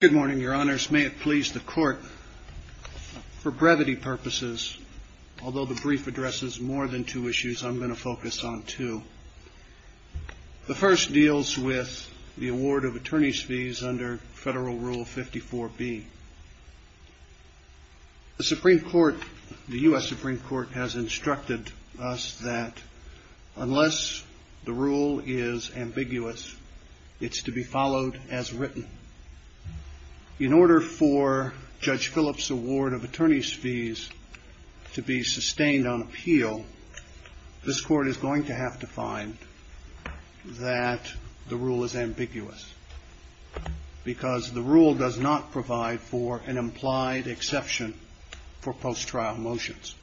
Good morning, your honors. May it please the court, for brevity purposes, although the brief addresses more than two issues, I'm going to focus on two. The first deals with the award of attorney's fees under Federal Rule 54B. The Supreme Court, the U.S. Supreme Court, has instructed us that unless the rule is ambiguous, it's to be followed as written. In order for Judge Phillips' award of attorney's fees to be sustained on appeal, this Court is going to have to find that the rule is ambiguous. Because the rule does not provide for an implied exception for post-trial motions.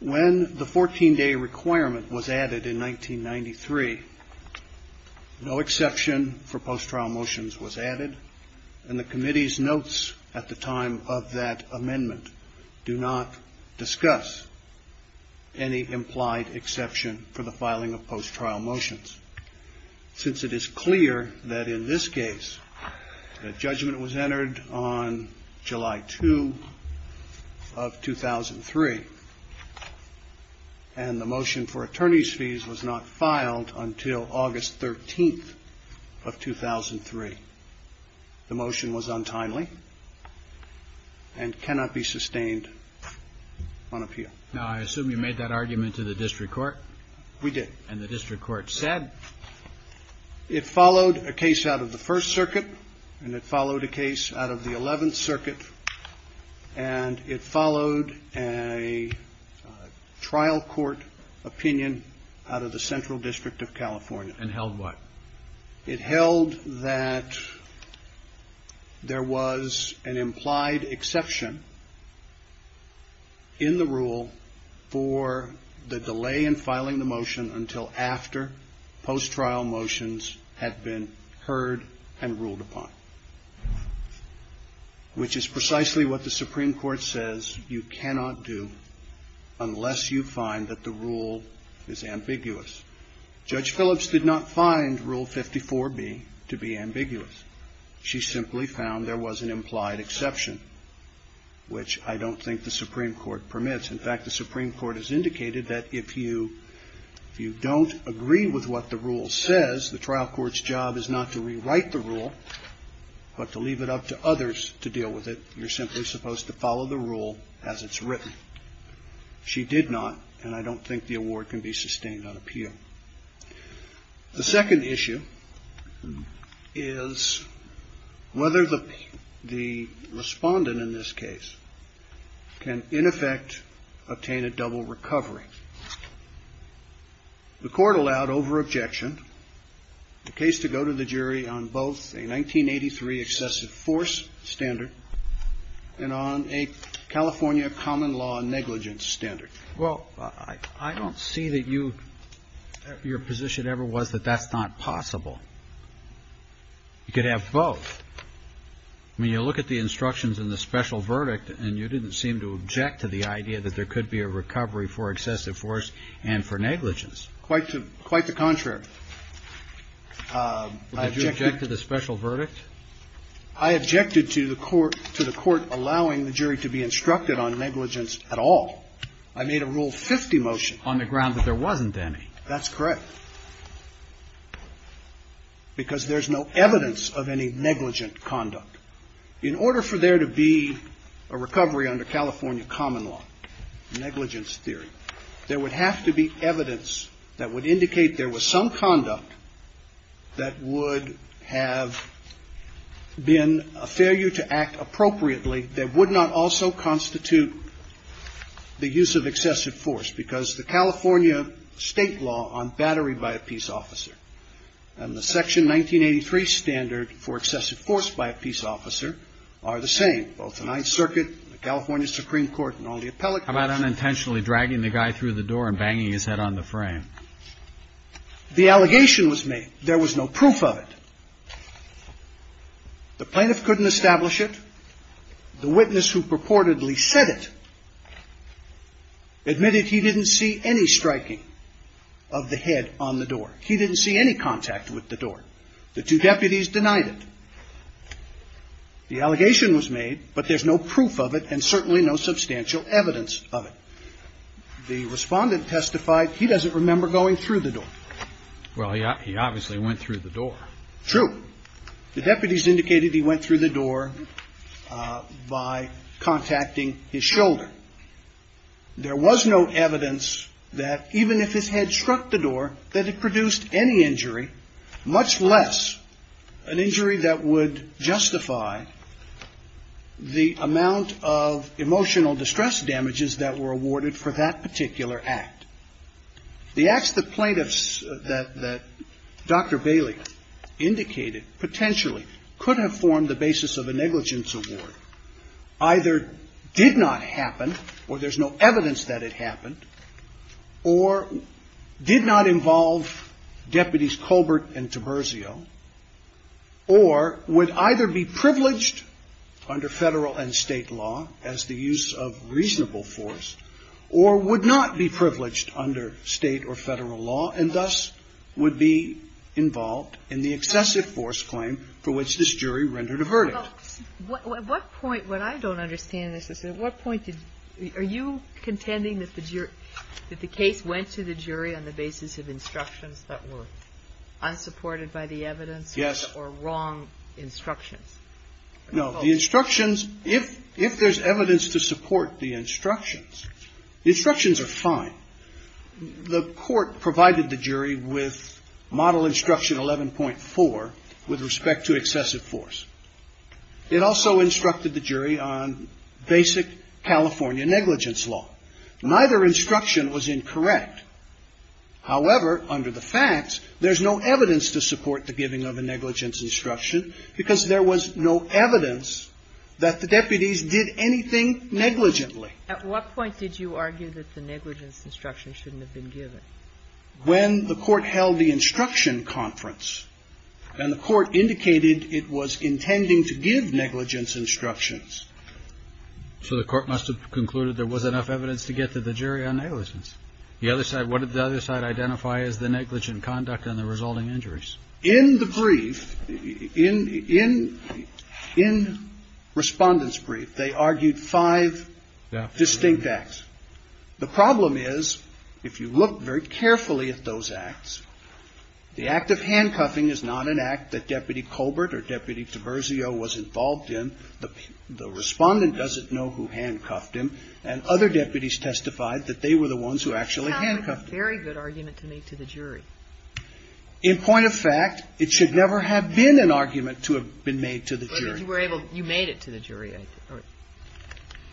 When the 14-day requirement was added in 1993, no exception for post-trial motions was added, and the Committee's notes at the time of that amendment do not discuss any implied exception for the filing of post-trial motions. Since it is clear that in this case the judgment was entered on July 2 of 2003, and the motion for attorney's fees was not filed until August 13th of 2003, the motion was untimely and cannot be sustained on appeal. Now, I assume you made that argument to the district court? We did. And the district court said? It followed a case out of the First Circuit, and it followed a case out of the Eleventh Circuit, and it followed a trial court opinion out of the Central District of California. And held what? It held that there was an implied exception in the rule for the delay in filing the motion until after post-trial motions had been heard and ruled upon, which is precisely what the Supreme Court says you cannot do unless you find that the rule is ambiguous. Judge Phillips did not find Rule 54b to be ambiguous. She simply found there was an implied exception, which I don't think the Supreme Court permits. In fact, the Supreme Court has indicated that if you don't agree with what the rule says, the trial court's job is not to rewrite the rule, but to leave it up to others to deal with it. You're simply supposed to follow the rule as it's written. She did not, and I don't think the award can be sustained on appeal. The second issue is whether the respondent in this case can, in effect, obtain a double recovery. The court allowed over-objection, the case to go to the jury on both a 1983 excessive force standard and on a California common law negligence standard. Well, I don't see that your position ever was that that's not possible. You could have both. I mean, you look at the instructions in the special verdict, and you didn't seem to object to the idea that there could be a recovery for excessive force and for negligence. Quite the contrary. Did you object to the special verdict? I objected to the court allowing the jury to be instructed on negligence at all. I made a Rule 50 motion. On the ground that there wasn't any. That's correct. Because there's no evidence of any negligent conduct. In order for there to be a recovery under California common law negligence theory, there would have to be evidence that would indicate there was some conduct that would have been a failure to act appropriately that would not also constitute the use of excessive force. Because the California state law on battery by a peace officer and the section 1983 standard for excessive force by a peace officer are the same. Both the Ninth Circuit, the California Supreme Court and all the appellate. How about unintentionally dragging the guy through the door and banging his head on the frame? The allegation was made. There was no proof of it. The plaintiff couldn't establish it. The witness who purportedly said it admitted he didn't see any striking of the head on the door. He didn't see any contact with the door. The two deputies denied it. The allegation was made, but there's no proof of it and certainly no substantial evidence of it. The respondent testified he doesn't remember going through the door. Well, he obviously went through the door. True. The deputies indicated he went through the door by contacting his shoulder. There was no evidence that even if his head struck the door, that it produced any injury, much less an injury that would justify the amount of emotional distress damages that were awarded for that particular act. The acts the plaintiffs that Dr. Bailey indicated potentially could have formed the basis of a negligence award either did not happen, or there's no evidence that it happened, or did not involve deputies Colbert and Taberzio, or would either be privileged under Federal and State law as the use of reasonable force, or would not be privileged under State or Federal law and thus would be involved in the excessive force claim for which this jury rendered a verdict. Well, at what point, what I don't understand is at what point did, are you contending that the case went to the jury on the basis of instructions that were unsupported by the evidence or wrong instructions? No, the instructions, if there's evidence to support the instructions, the instructions are fine. The court provided the jury with model instruction 11.4 with respect to excessive force. It also instructed the jury on basic California negligence law. Neither instruction was incorrect. However, under the facts, there's no evidence to support the giving of a negligence instruction because there was no evidence that the deputies did anything negligently. At what point did you argue that the negligence instruction shouldn't have been given? When the court held the instruction conference and the court indicated it was intending to give negligence instructions. So the court must have concluded there was enough evidence to get to the jury on negligence. The other side, what did the other side identify as the negligent conduct and the resulting injuries? In the brief, in, in, in Respondent's brief, they argued five distinct acts. The problem is, if you look very carefully at those acts, the act of handcuffing is not an act that Deputy Colbert or Deputy Tavirzio was involved in. The, the Respondent doesn't know who handcuffed him. And other deputies testified that they were the ones who actually handcuffed him. That's a very good argument to make to the jury. In point of fact, it should never have been an argument to have been made to the jury.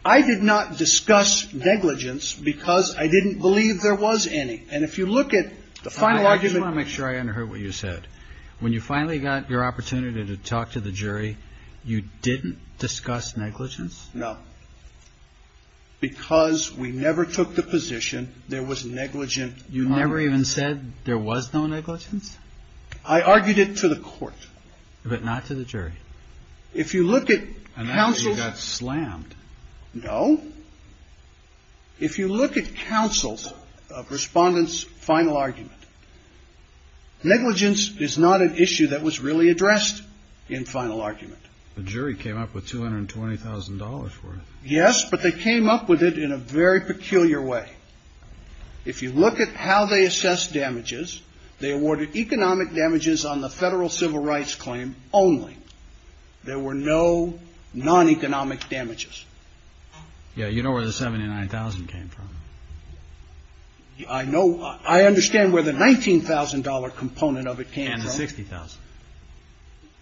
I did not discuss negligence because I didn't believe there was any. And if you look at the final argument. I just want to make sure I under heard what you said. When you finally got your opportunity to talk to the jury, you didn't discuss negligence? No. Because we never took the position there was negligent. You never even said there was no negligence? I argued it to the court. But not to the jury. If you look at counsels. And that's when you got slammed. No. If you look at counsels of Respondent's final argument. Negligence is not an issue that was really addressed in final argument. The jury came up with $220,000 worth. Yes, but they came up with it in a very peculiar way. If you look at how they assess damages. They awarded economic damages on the federal civil rights claim only. There were no non-economic damages. Yeah, you know where the $79,000 came from. I know. I understand where the $19,000 component of it came from. And the $60,000.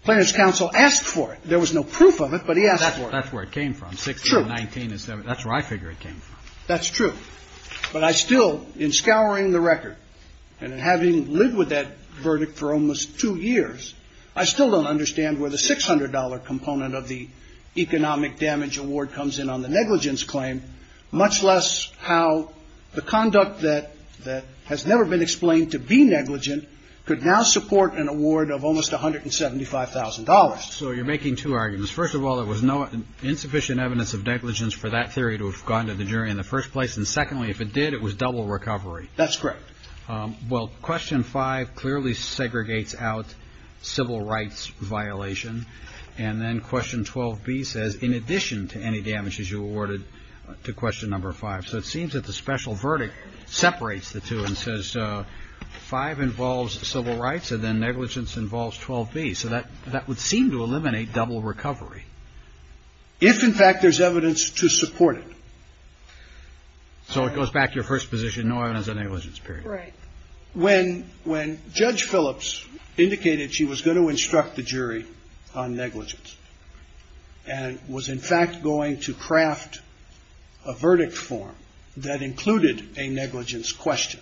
Plaintiff's counsel asked for it. There was no proof of it, but he asked for it. That's where it came from. $60,000, $19,000, that's where I figure it came from. That's true. But I still, in scouring the record and having lived with that verdict for almost two years, I still don't understand where the $600 component of the economic damage award comes in on the negligence claim, much less how the conduct that has never been explained to be negligent could now support an award of almost $175,000. So you're making two arguments. First of all, there was no insufficient evidence of negligence for that theory to have gone to the jury in the first place. And secondly, if it did, it was double recovery. That's correct. Well, question five clearly segregates out civil rights violation. And then question 12b says, in addition to any damages you awarded to question number five, so it seems that the special verdict separates the two and says five involves civil rights and then negligence involves 12b. So that would seem to eliminate double recovery. If in fact there's evidence to support it. So it goes back to your first position, no evidence of negligence period. Right. When Judge Phillips indicated she was going to instruct the jury on negligence and was in fact going to craft a verdict form that included a negligence question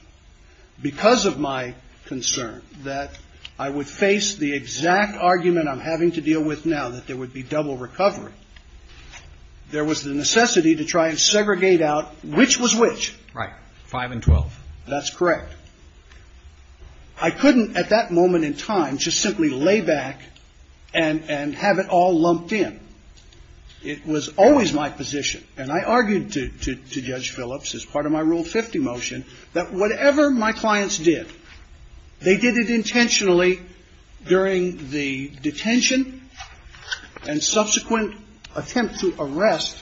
because of my concern that I would face the exact argument I'm having to deal with now that there would be double recovery, there was the necessity to try and segregate out which was which. Right. Five and 12. That's correct. I couldn't at that moment in time just simply lay back and have it all lumped in. It was always my position, and I argued to Judge Phillips as part of my Rule 50 motion, that whatever my clients did, they did it intentionally during the detention and subsequent attempt to arrest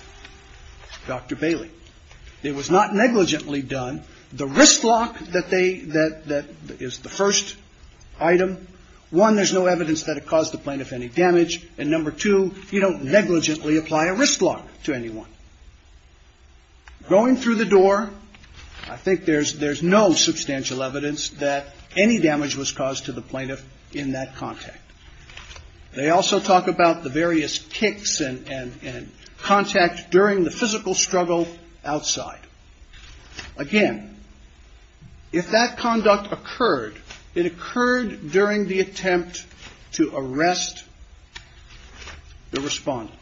Dr. Bailey. It was not negligently done. The wrist lock that they that is the first item, one, there's no evidence that it caused the plaintiff any damage, and number two, you don't negligently apply a wrist lock to anyone. Going through the door, I think there's no substantial evidence that any damage was caused to the plaintiff in that context. They also talk about the various kicks and contact during the physical struggle outside. Again, if that conduct occurred, it occurred during the attempt to arrest the respondent.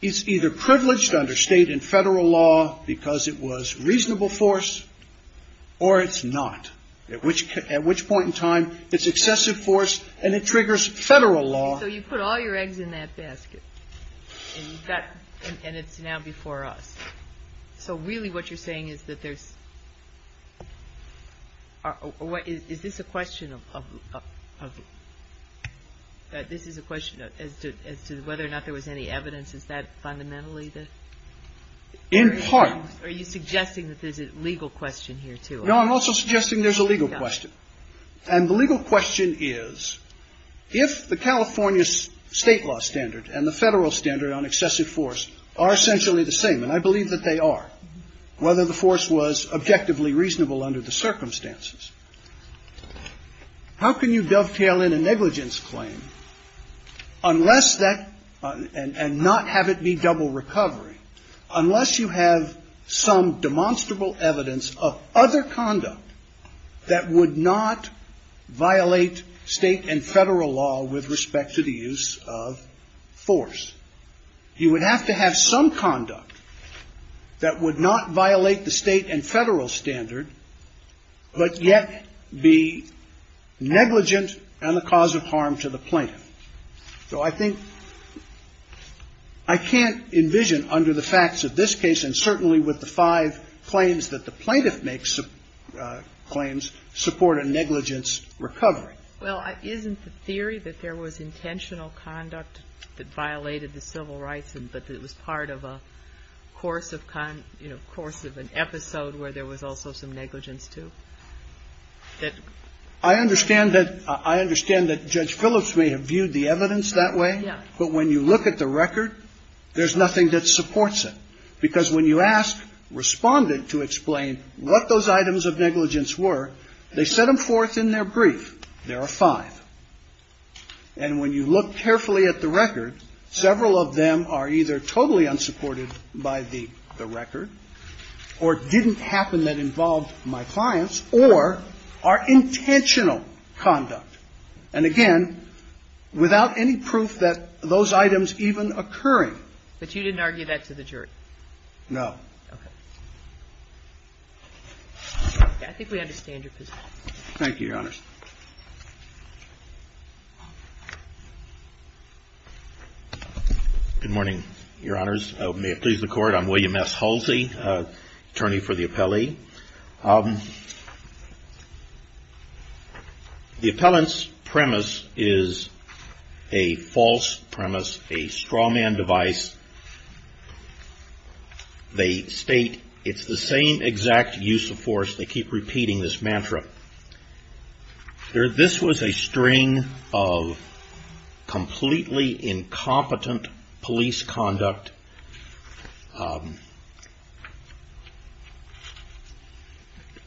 He's either privileged under state and federal law because it was reasonable force or it's not, at which point in time it's excessive force and it triggers federal law. So you put all your eggs in that basket, and it's now before us. So really what you're saying is that there's – is this a question of – this is a question as to whether or not there was any evidence. Is that fundamentally the – In part. Are you suggesting that there's a legal question here, too? No, I'm also suggesting there's a legal question. And the legal question is if the California state law standard and the federal standard on excessive force are essentially the same, and I believe that they are, whether the force was objectively reasonable under the circumstances, how can you dovetail in a negligence claim unless that – and not have it be double recovery – unless you have some demonstrable evidence of other conduct that would not violate state and federal law with respect to the use of force. You would have to have some conduct that would not violate the state and federal standard but yet be negligent and the cause of harm to the plaintiff. So I think – I can't envision under the facts of this case and certainly with the five claims that the plaintiff makes claims support a negligence recovery. Well, isn't the theory that there was intentional conduct that violated the civil rights and that it was part of a course of – you know, course of an episode where there was also some negligence, too, that – I understand that – I understand that Judge Phillips may have viewed the evidence that way. Yeah. But when you look at the record, there's nothing that supports it. Because when you ask Respondent to explain what those items of negligence were, they set them forth in their brief. There are five. And when you look carefully at the record, several of them are either totally unsupported by the record or didn't happen that involved my clients or are intentionally negligent. So I don't think there was intentional conduct, and again, without any proof that those items even occurring. But you didn't argue that to the jury? No. Okay. I think we understand your position. Thank you, Your Honors. Good morning, Your Honors. May it please the Court. I'm William S. Halsey, attorney for the appellee. The appellant's premise is a false premise, a strawman device. They state it's the same exact use of force. They keep repeating this mantra. This was a string of completely incompetent police conduct.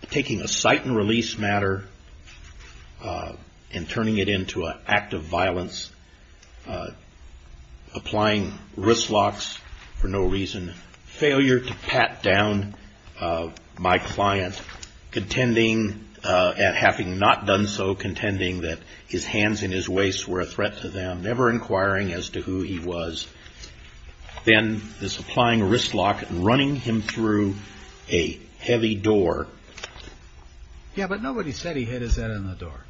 Taking a cite and release matter and turning it into an act of violence, applying wrist locks for no reason, failure to pat down my client, contending, and having not done so, contending that his hands and his waist were a threat to them, never inquiring as to who he was. Then this applying a wrist lock and running him through a heavy door. Yeah, but nobody said he hit his head on the door.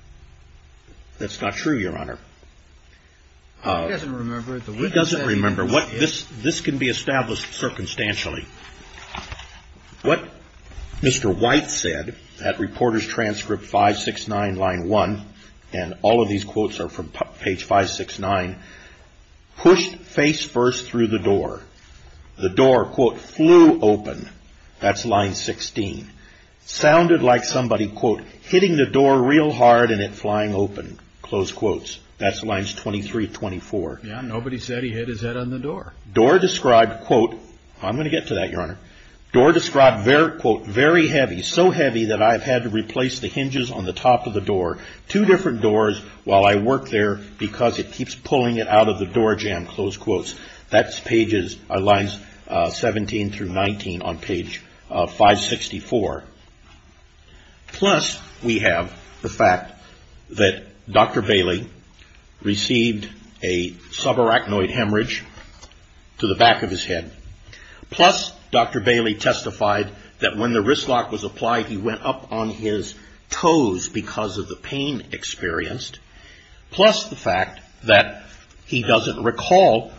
That's not true, Your Honor. He doesn't remember it. He doesn't remember. This can be established circumstantially. What Mr. White said at Reporter's Transcript 569, line 1, and all of these quotes are from page 569, pushed face first through the door. The door, quote, flew open. That's line 16. Sounded like somebody, quote, hitting the door real hard and it flying open, close quotes. That's lines 23, 24. Door described, quote, I'm going to get to that, Your Honor. Door described, quote, very heavy, so heavy that I've had to replace the hinges on the top of the door. Two different doors while I worked there because it keeps pulling it out of the door jamb, close quotes. That's pages, lines 17 through 19 on page 564. Plus, we have the fact that Dr. Bailey received a subarachnoid hemorrhage to the back of his head. Plus, Dr. Bailey testified that when the wrist lock was applied, he went up on his toes because of the pain experienced. Plus, the fact that he doesn't recall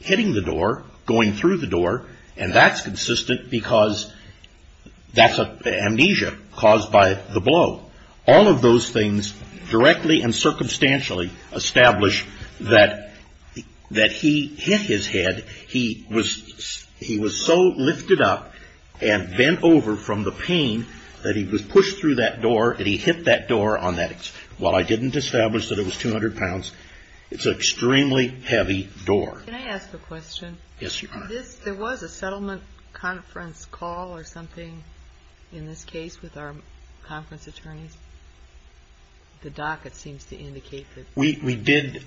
hitting the door, going through the door, and that's consistent because that's amnesia caused by the blow. All of those things directly and circumstantially establish that he hit his head. He was so lifted up and bent over from the pain that he was pushed through that door and he hit that door on that. While I didn't establish that it was 200 pounds, it's an extremely heavy door. Can I ask a question? Yes, you can. There was a settlement conference call or something in this case with our conference attorneys? The docket seems to indicate that. We did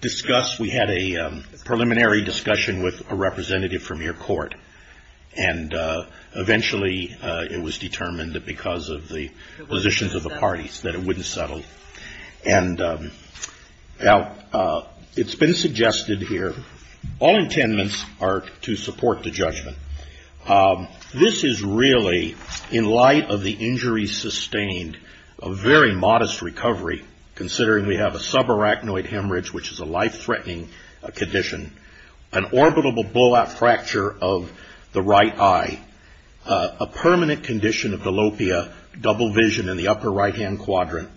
discuss, we had a preliminary discussion with a representative from your court, and eventually it was determined that because of the positions of the parties that it wouldn't settle. And now it's been suggested here, all intendants are to support the judgment. This is really, in light of the injuries sustained, a very modest recovery, considering we have a subarachnoid hemorrhage, which is a life-threatening condition, an orbitable blowout fracture of the right eye, a permanent condition of dilopia, double vision in the upper right-hand quadrant,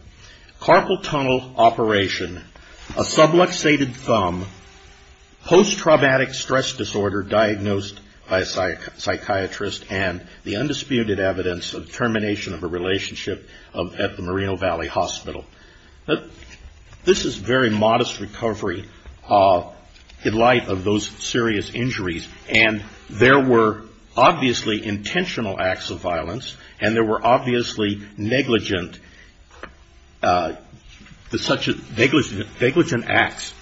carpal tunnel operation, a subluxated thumb, post-traumatic stress disorder diagnosed by a psychiatrist, and the undisputed evidence of termination of a relationship at the Moreno Valley Hospital. This is very modest recovery in light of those serious injuries. And there were obviously intentional acts of violence, and there were obviously negligent, such negligent acts.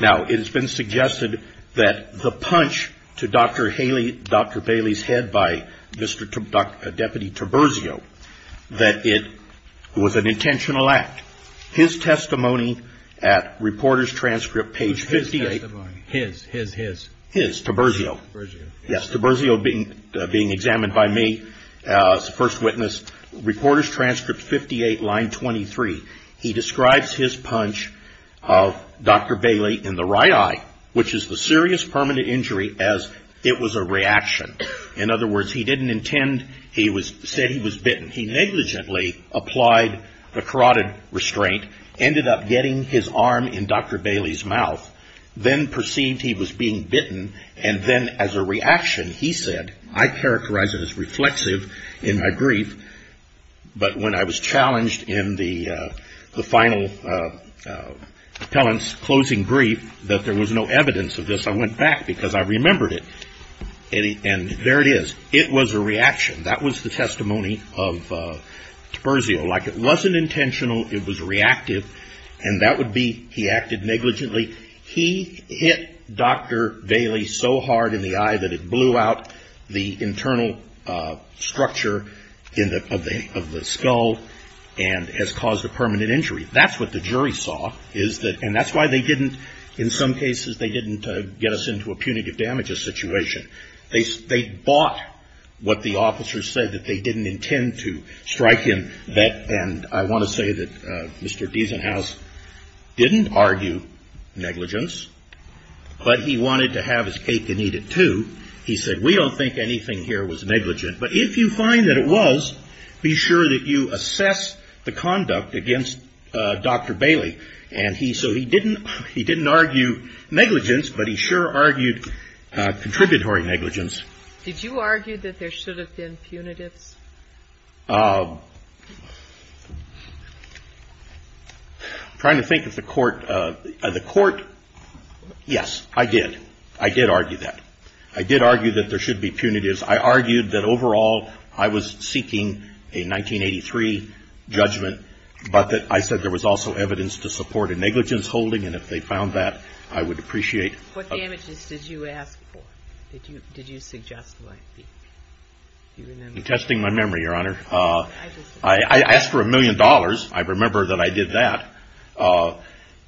Now, it has been suggested that the punch to Dr. Haley, Dr. Bailey's head by Deputy Trobrizio, that it was an intentional act. His testimony at Reporter's Transcript, page 58. His testimony. His, his, his. His, Trobrizio. Trobrizio. Yes, Trobrizio being examined by me as a first witness. Reporter's Transcript, 58, line 23. He describes his punch of Dr. Bailey in the right eye, which is the serious permanent injury, as it was a reaction. In other words, he didn't intend, he said he was bitten. He negligently applied the carotid restraint, ended up getting his arm in Dr. Bailey's mouth, then perceived he was being bitten, and then as a reaction he said, I characterize it as reflexive in my grief, but when I was challenged in the final appellant's closing grief that there was no evidence of this, I went back because I remembered it. And there it is. It was a reaction. That was the testimony of Trobrizio. Like it wasn't intentional, it was reactive, and that would be he acted negligently. He hit Dr. Bailey so hard in the eye that it blew out the internal structure in the, of the skull and has caused a permanent injury. That's what the jury saw, is that, and that's why they didn't, in some cases they didn't get us into a punitive damages situation. They bought what the officers said, that they didn't intend to strike him. And I want to say that Mr. Diesenhaus didn't argue negligence, but he wanted to have his cake and eat it too. He said, we don't think anything here was negligent, but if you find that it was, be sure that you assess the conduct against Dr. Bailey. And he, so he didn't, he didn't argue negligence, but he sure argued contributory negligence. Did you argue that there should have been punitives? I'm trying to think if the court, the court, yes, I did. I did argue that. I did argue that there should be punitives. I argued that overall I was seeking a 1983 judgment, but that I said there was also evidence to support a negligence holding, and if they found that, I would appreciate. What damages did you ask for? Did you, did you suggest? I'm testing my memory, Your Honor. I asked for a million dollars. I remember that I did that.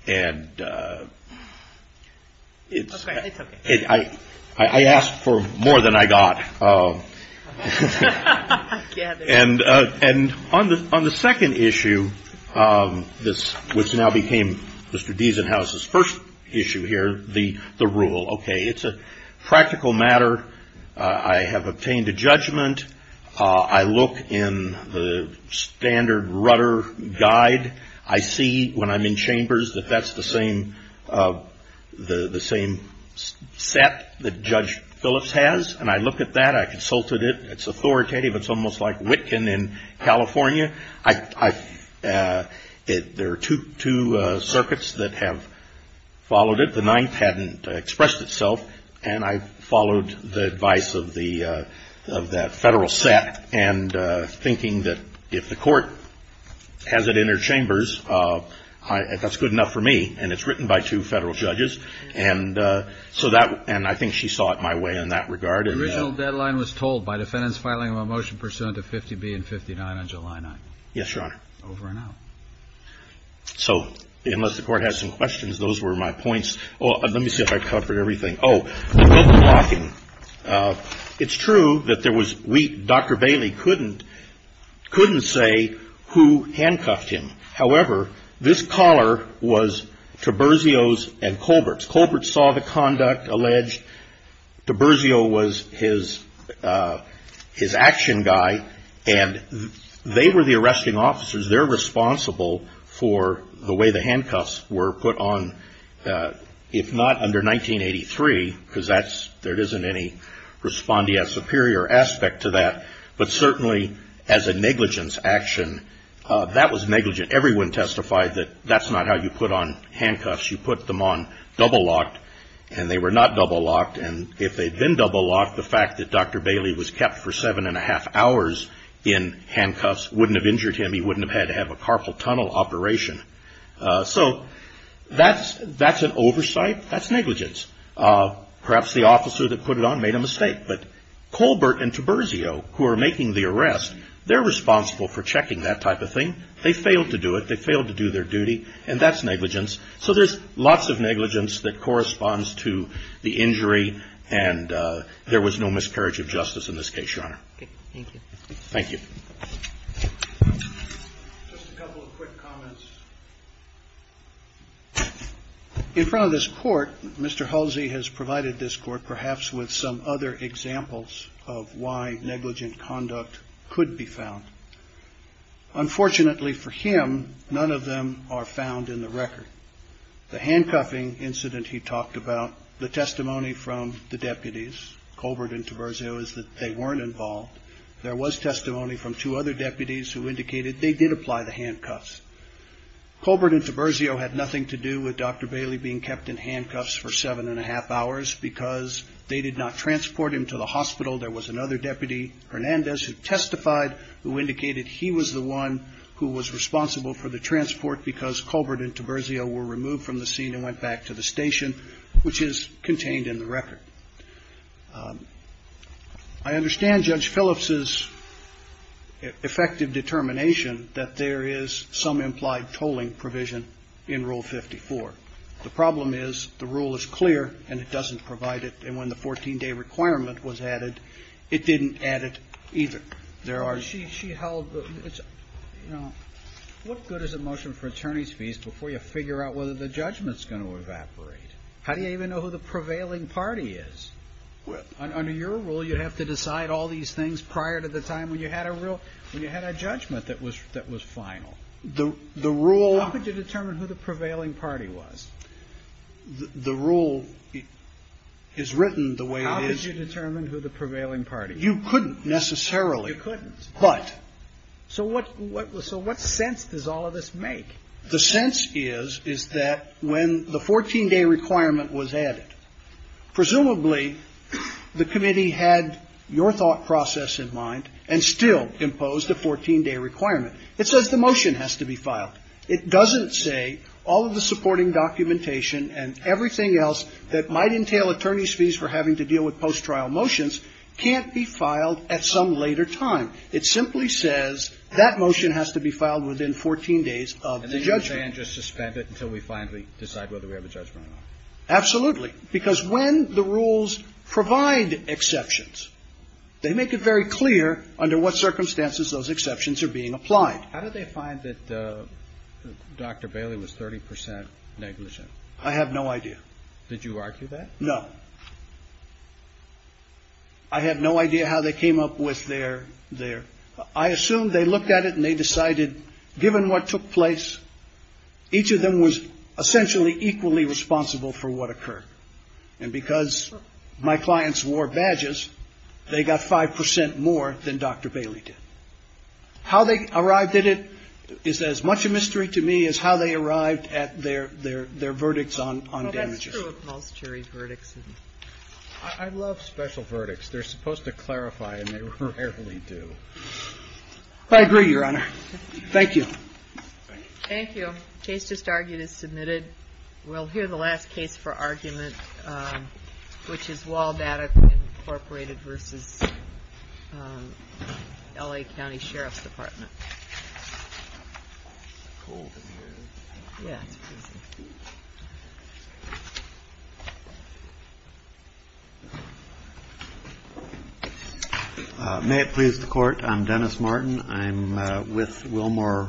And I asked for more than I got. And on the second issue, which now became Mr. Diesenhaus' first issue here, the rule. Okay, it's a practical matter. I have obtained a judgment. I look in the standard rudder guide. I see when I'm in chambers that that's the same set that Judge Phillips has. And I look at that. I consulted it. It's authoritative. It's almost like Witkin in California. There are two circuits that have followed it. The ninth hadn't expressed itself. And I followed the advice of the, of that Federal set, and thinking that if the Court has it in her chambers, that's good enough for me. And it's written by two Federal judges. And so that, and I think she saw it my way in that regard. The original deadline was told by defendants filing a motion pursuant to 50B and 59 on July 9th. Yes, Your Honor. Over and out. So unless the Court has some questions, those were my points. Well, let me see if I covered everything. Oh, no blocking. It's true that there was, we, Dr. Bailey couldn't, couldn't say who handcuffed him. However, this caller was Taberzio's and Colbert's. Colbert saw the conduct alleged. Taberzio was his, his action guy. And they were the arresting officers. They're responsible for the way the handcuffs were put on, if not under 1983, because that's, there isn't any respondeas superior aspect to that. But certainly as a negligence action, that was negligent. Everyone testified that that's not how you put on handcuffs. You put them on double locked, and they were not double locked. And if they'd been double locked, the fact that Dr. Bailey was kept for seven and a half hours in handcuffs wouldn't have injured him. He wouldn't have had to have a carpal tunnel operation. So that's, that's an oversight. That's negligence. Perhaps the officer that put it on made a mistake. But Colbert and Taberzio, who are making the arrest, they're responsible for checking that type of thing. They failed to do it. They failed to do their duty. And that's negligence. So there's lots of negligence that corresponds to the injury. And there was no miscarriage of justice in this case, Your Honor. Okay. Thank you. Thank you. Just a couple of quick comments. In front of this Court, Mr. Halsey has provided this Court perhaps with some other examples of why negligent conduct could be found. Unfortunately for him, none of them are found in the record. The handcuffing incident he talked about, the testimony from the deputies, Colbert and Taberzio, is that they weren't involved. There was testimony from two other deputies who indicated they did apply the handcuffs. Colbert and Taberzio had nothing to do with Dr. Bailey being kept in handcuffs for seven and a half hours because they did not transport him to the hospital. There was another deputy, Hernandez, who testified, who indicated he was the one who was responsible for the transport because Colbert and Taberzio were removed from the scene and went back to the station, which is contained in the record. I understand Judge Phillips's effective determination that there is some implied tolling provision in Rule 54. The problem is the rule is clear and it doesn't provide it. And when the 14-day requirement was added, it didn't add it either. There are ---- She held the ---- You know, what good is a motion for attorney's fees before you figure out whether the judgment is going to evaporate? How do you even know who the prevailing party is? Under your rule, you have to decide all these things prior to the time when you had a real, when you had a judgment that was final. The rule ---- How could you determine who the prevailing party was? The rule is written the way it is. How could you determine who the prevailing party was? You couldn't necessarily. You couldn't. But ---- So what sense does all of this make? The sense is, is that when the 14-day requirement was added, presumably the committee had your thought process in mind and still imposed a 14-day requirement. It says the motion has to be filed. It doesn't say all of the supporting documentation and everything else that might entail attorney's fees for having to deal with post-trial motions can't be filed at some later time. It simply says that motion has to be filed within 14 days of the judgment. And they just suspend it until we finally decide whether we have a judgment or not? Absolutely. Because when the rules provide exceptions, they make it very clear under what circumstances those exceptions are being applied. How did they find that Dr. Bailey was 30 percent negligent? I have no idea. Did you argue that? No. I have no idea how they came up with their ---- I assume they looked at it and they decided given what took place, each of them was essentially equally responsible for what occurred. And because my clients wore badges, they got 5 percent more than Dr. Bailey did. How they arrived at it is as much a mystery to me as how they arrived at their verdicts on damages. I love special verdicts. They're supposed to clarify and they rarely do. I agree, Your Honor. Thank you. Thank you. The case just argued is submitted. We'll hear the last case for argument, which is Wahl Data Incorporated v. L.A. County Sheriff's Department. May it please the Court. I'm Dennis Martin. I'm with Wilmore.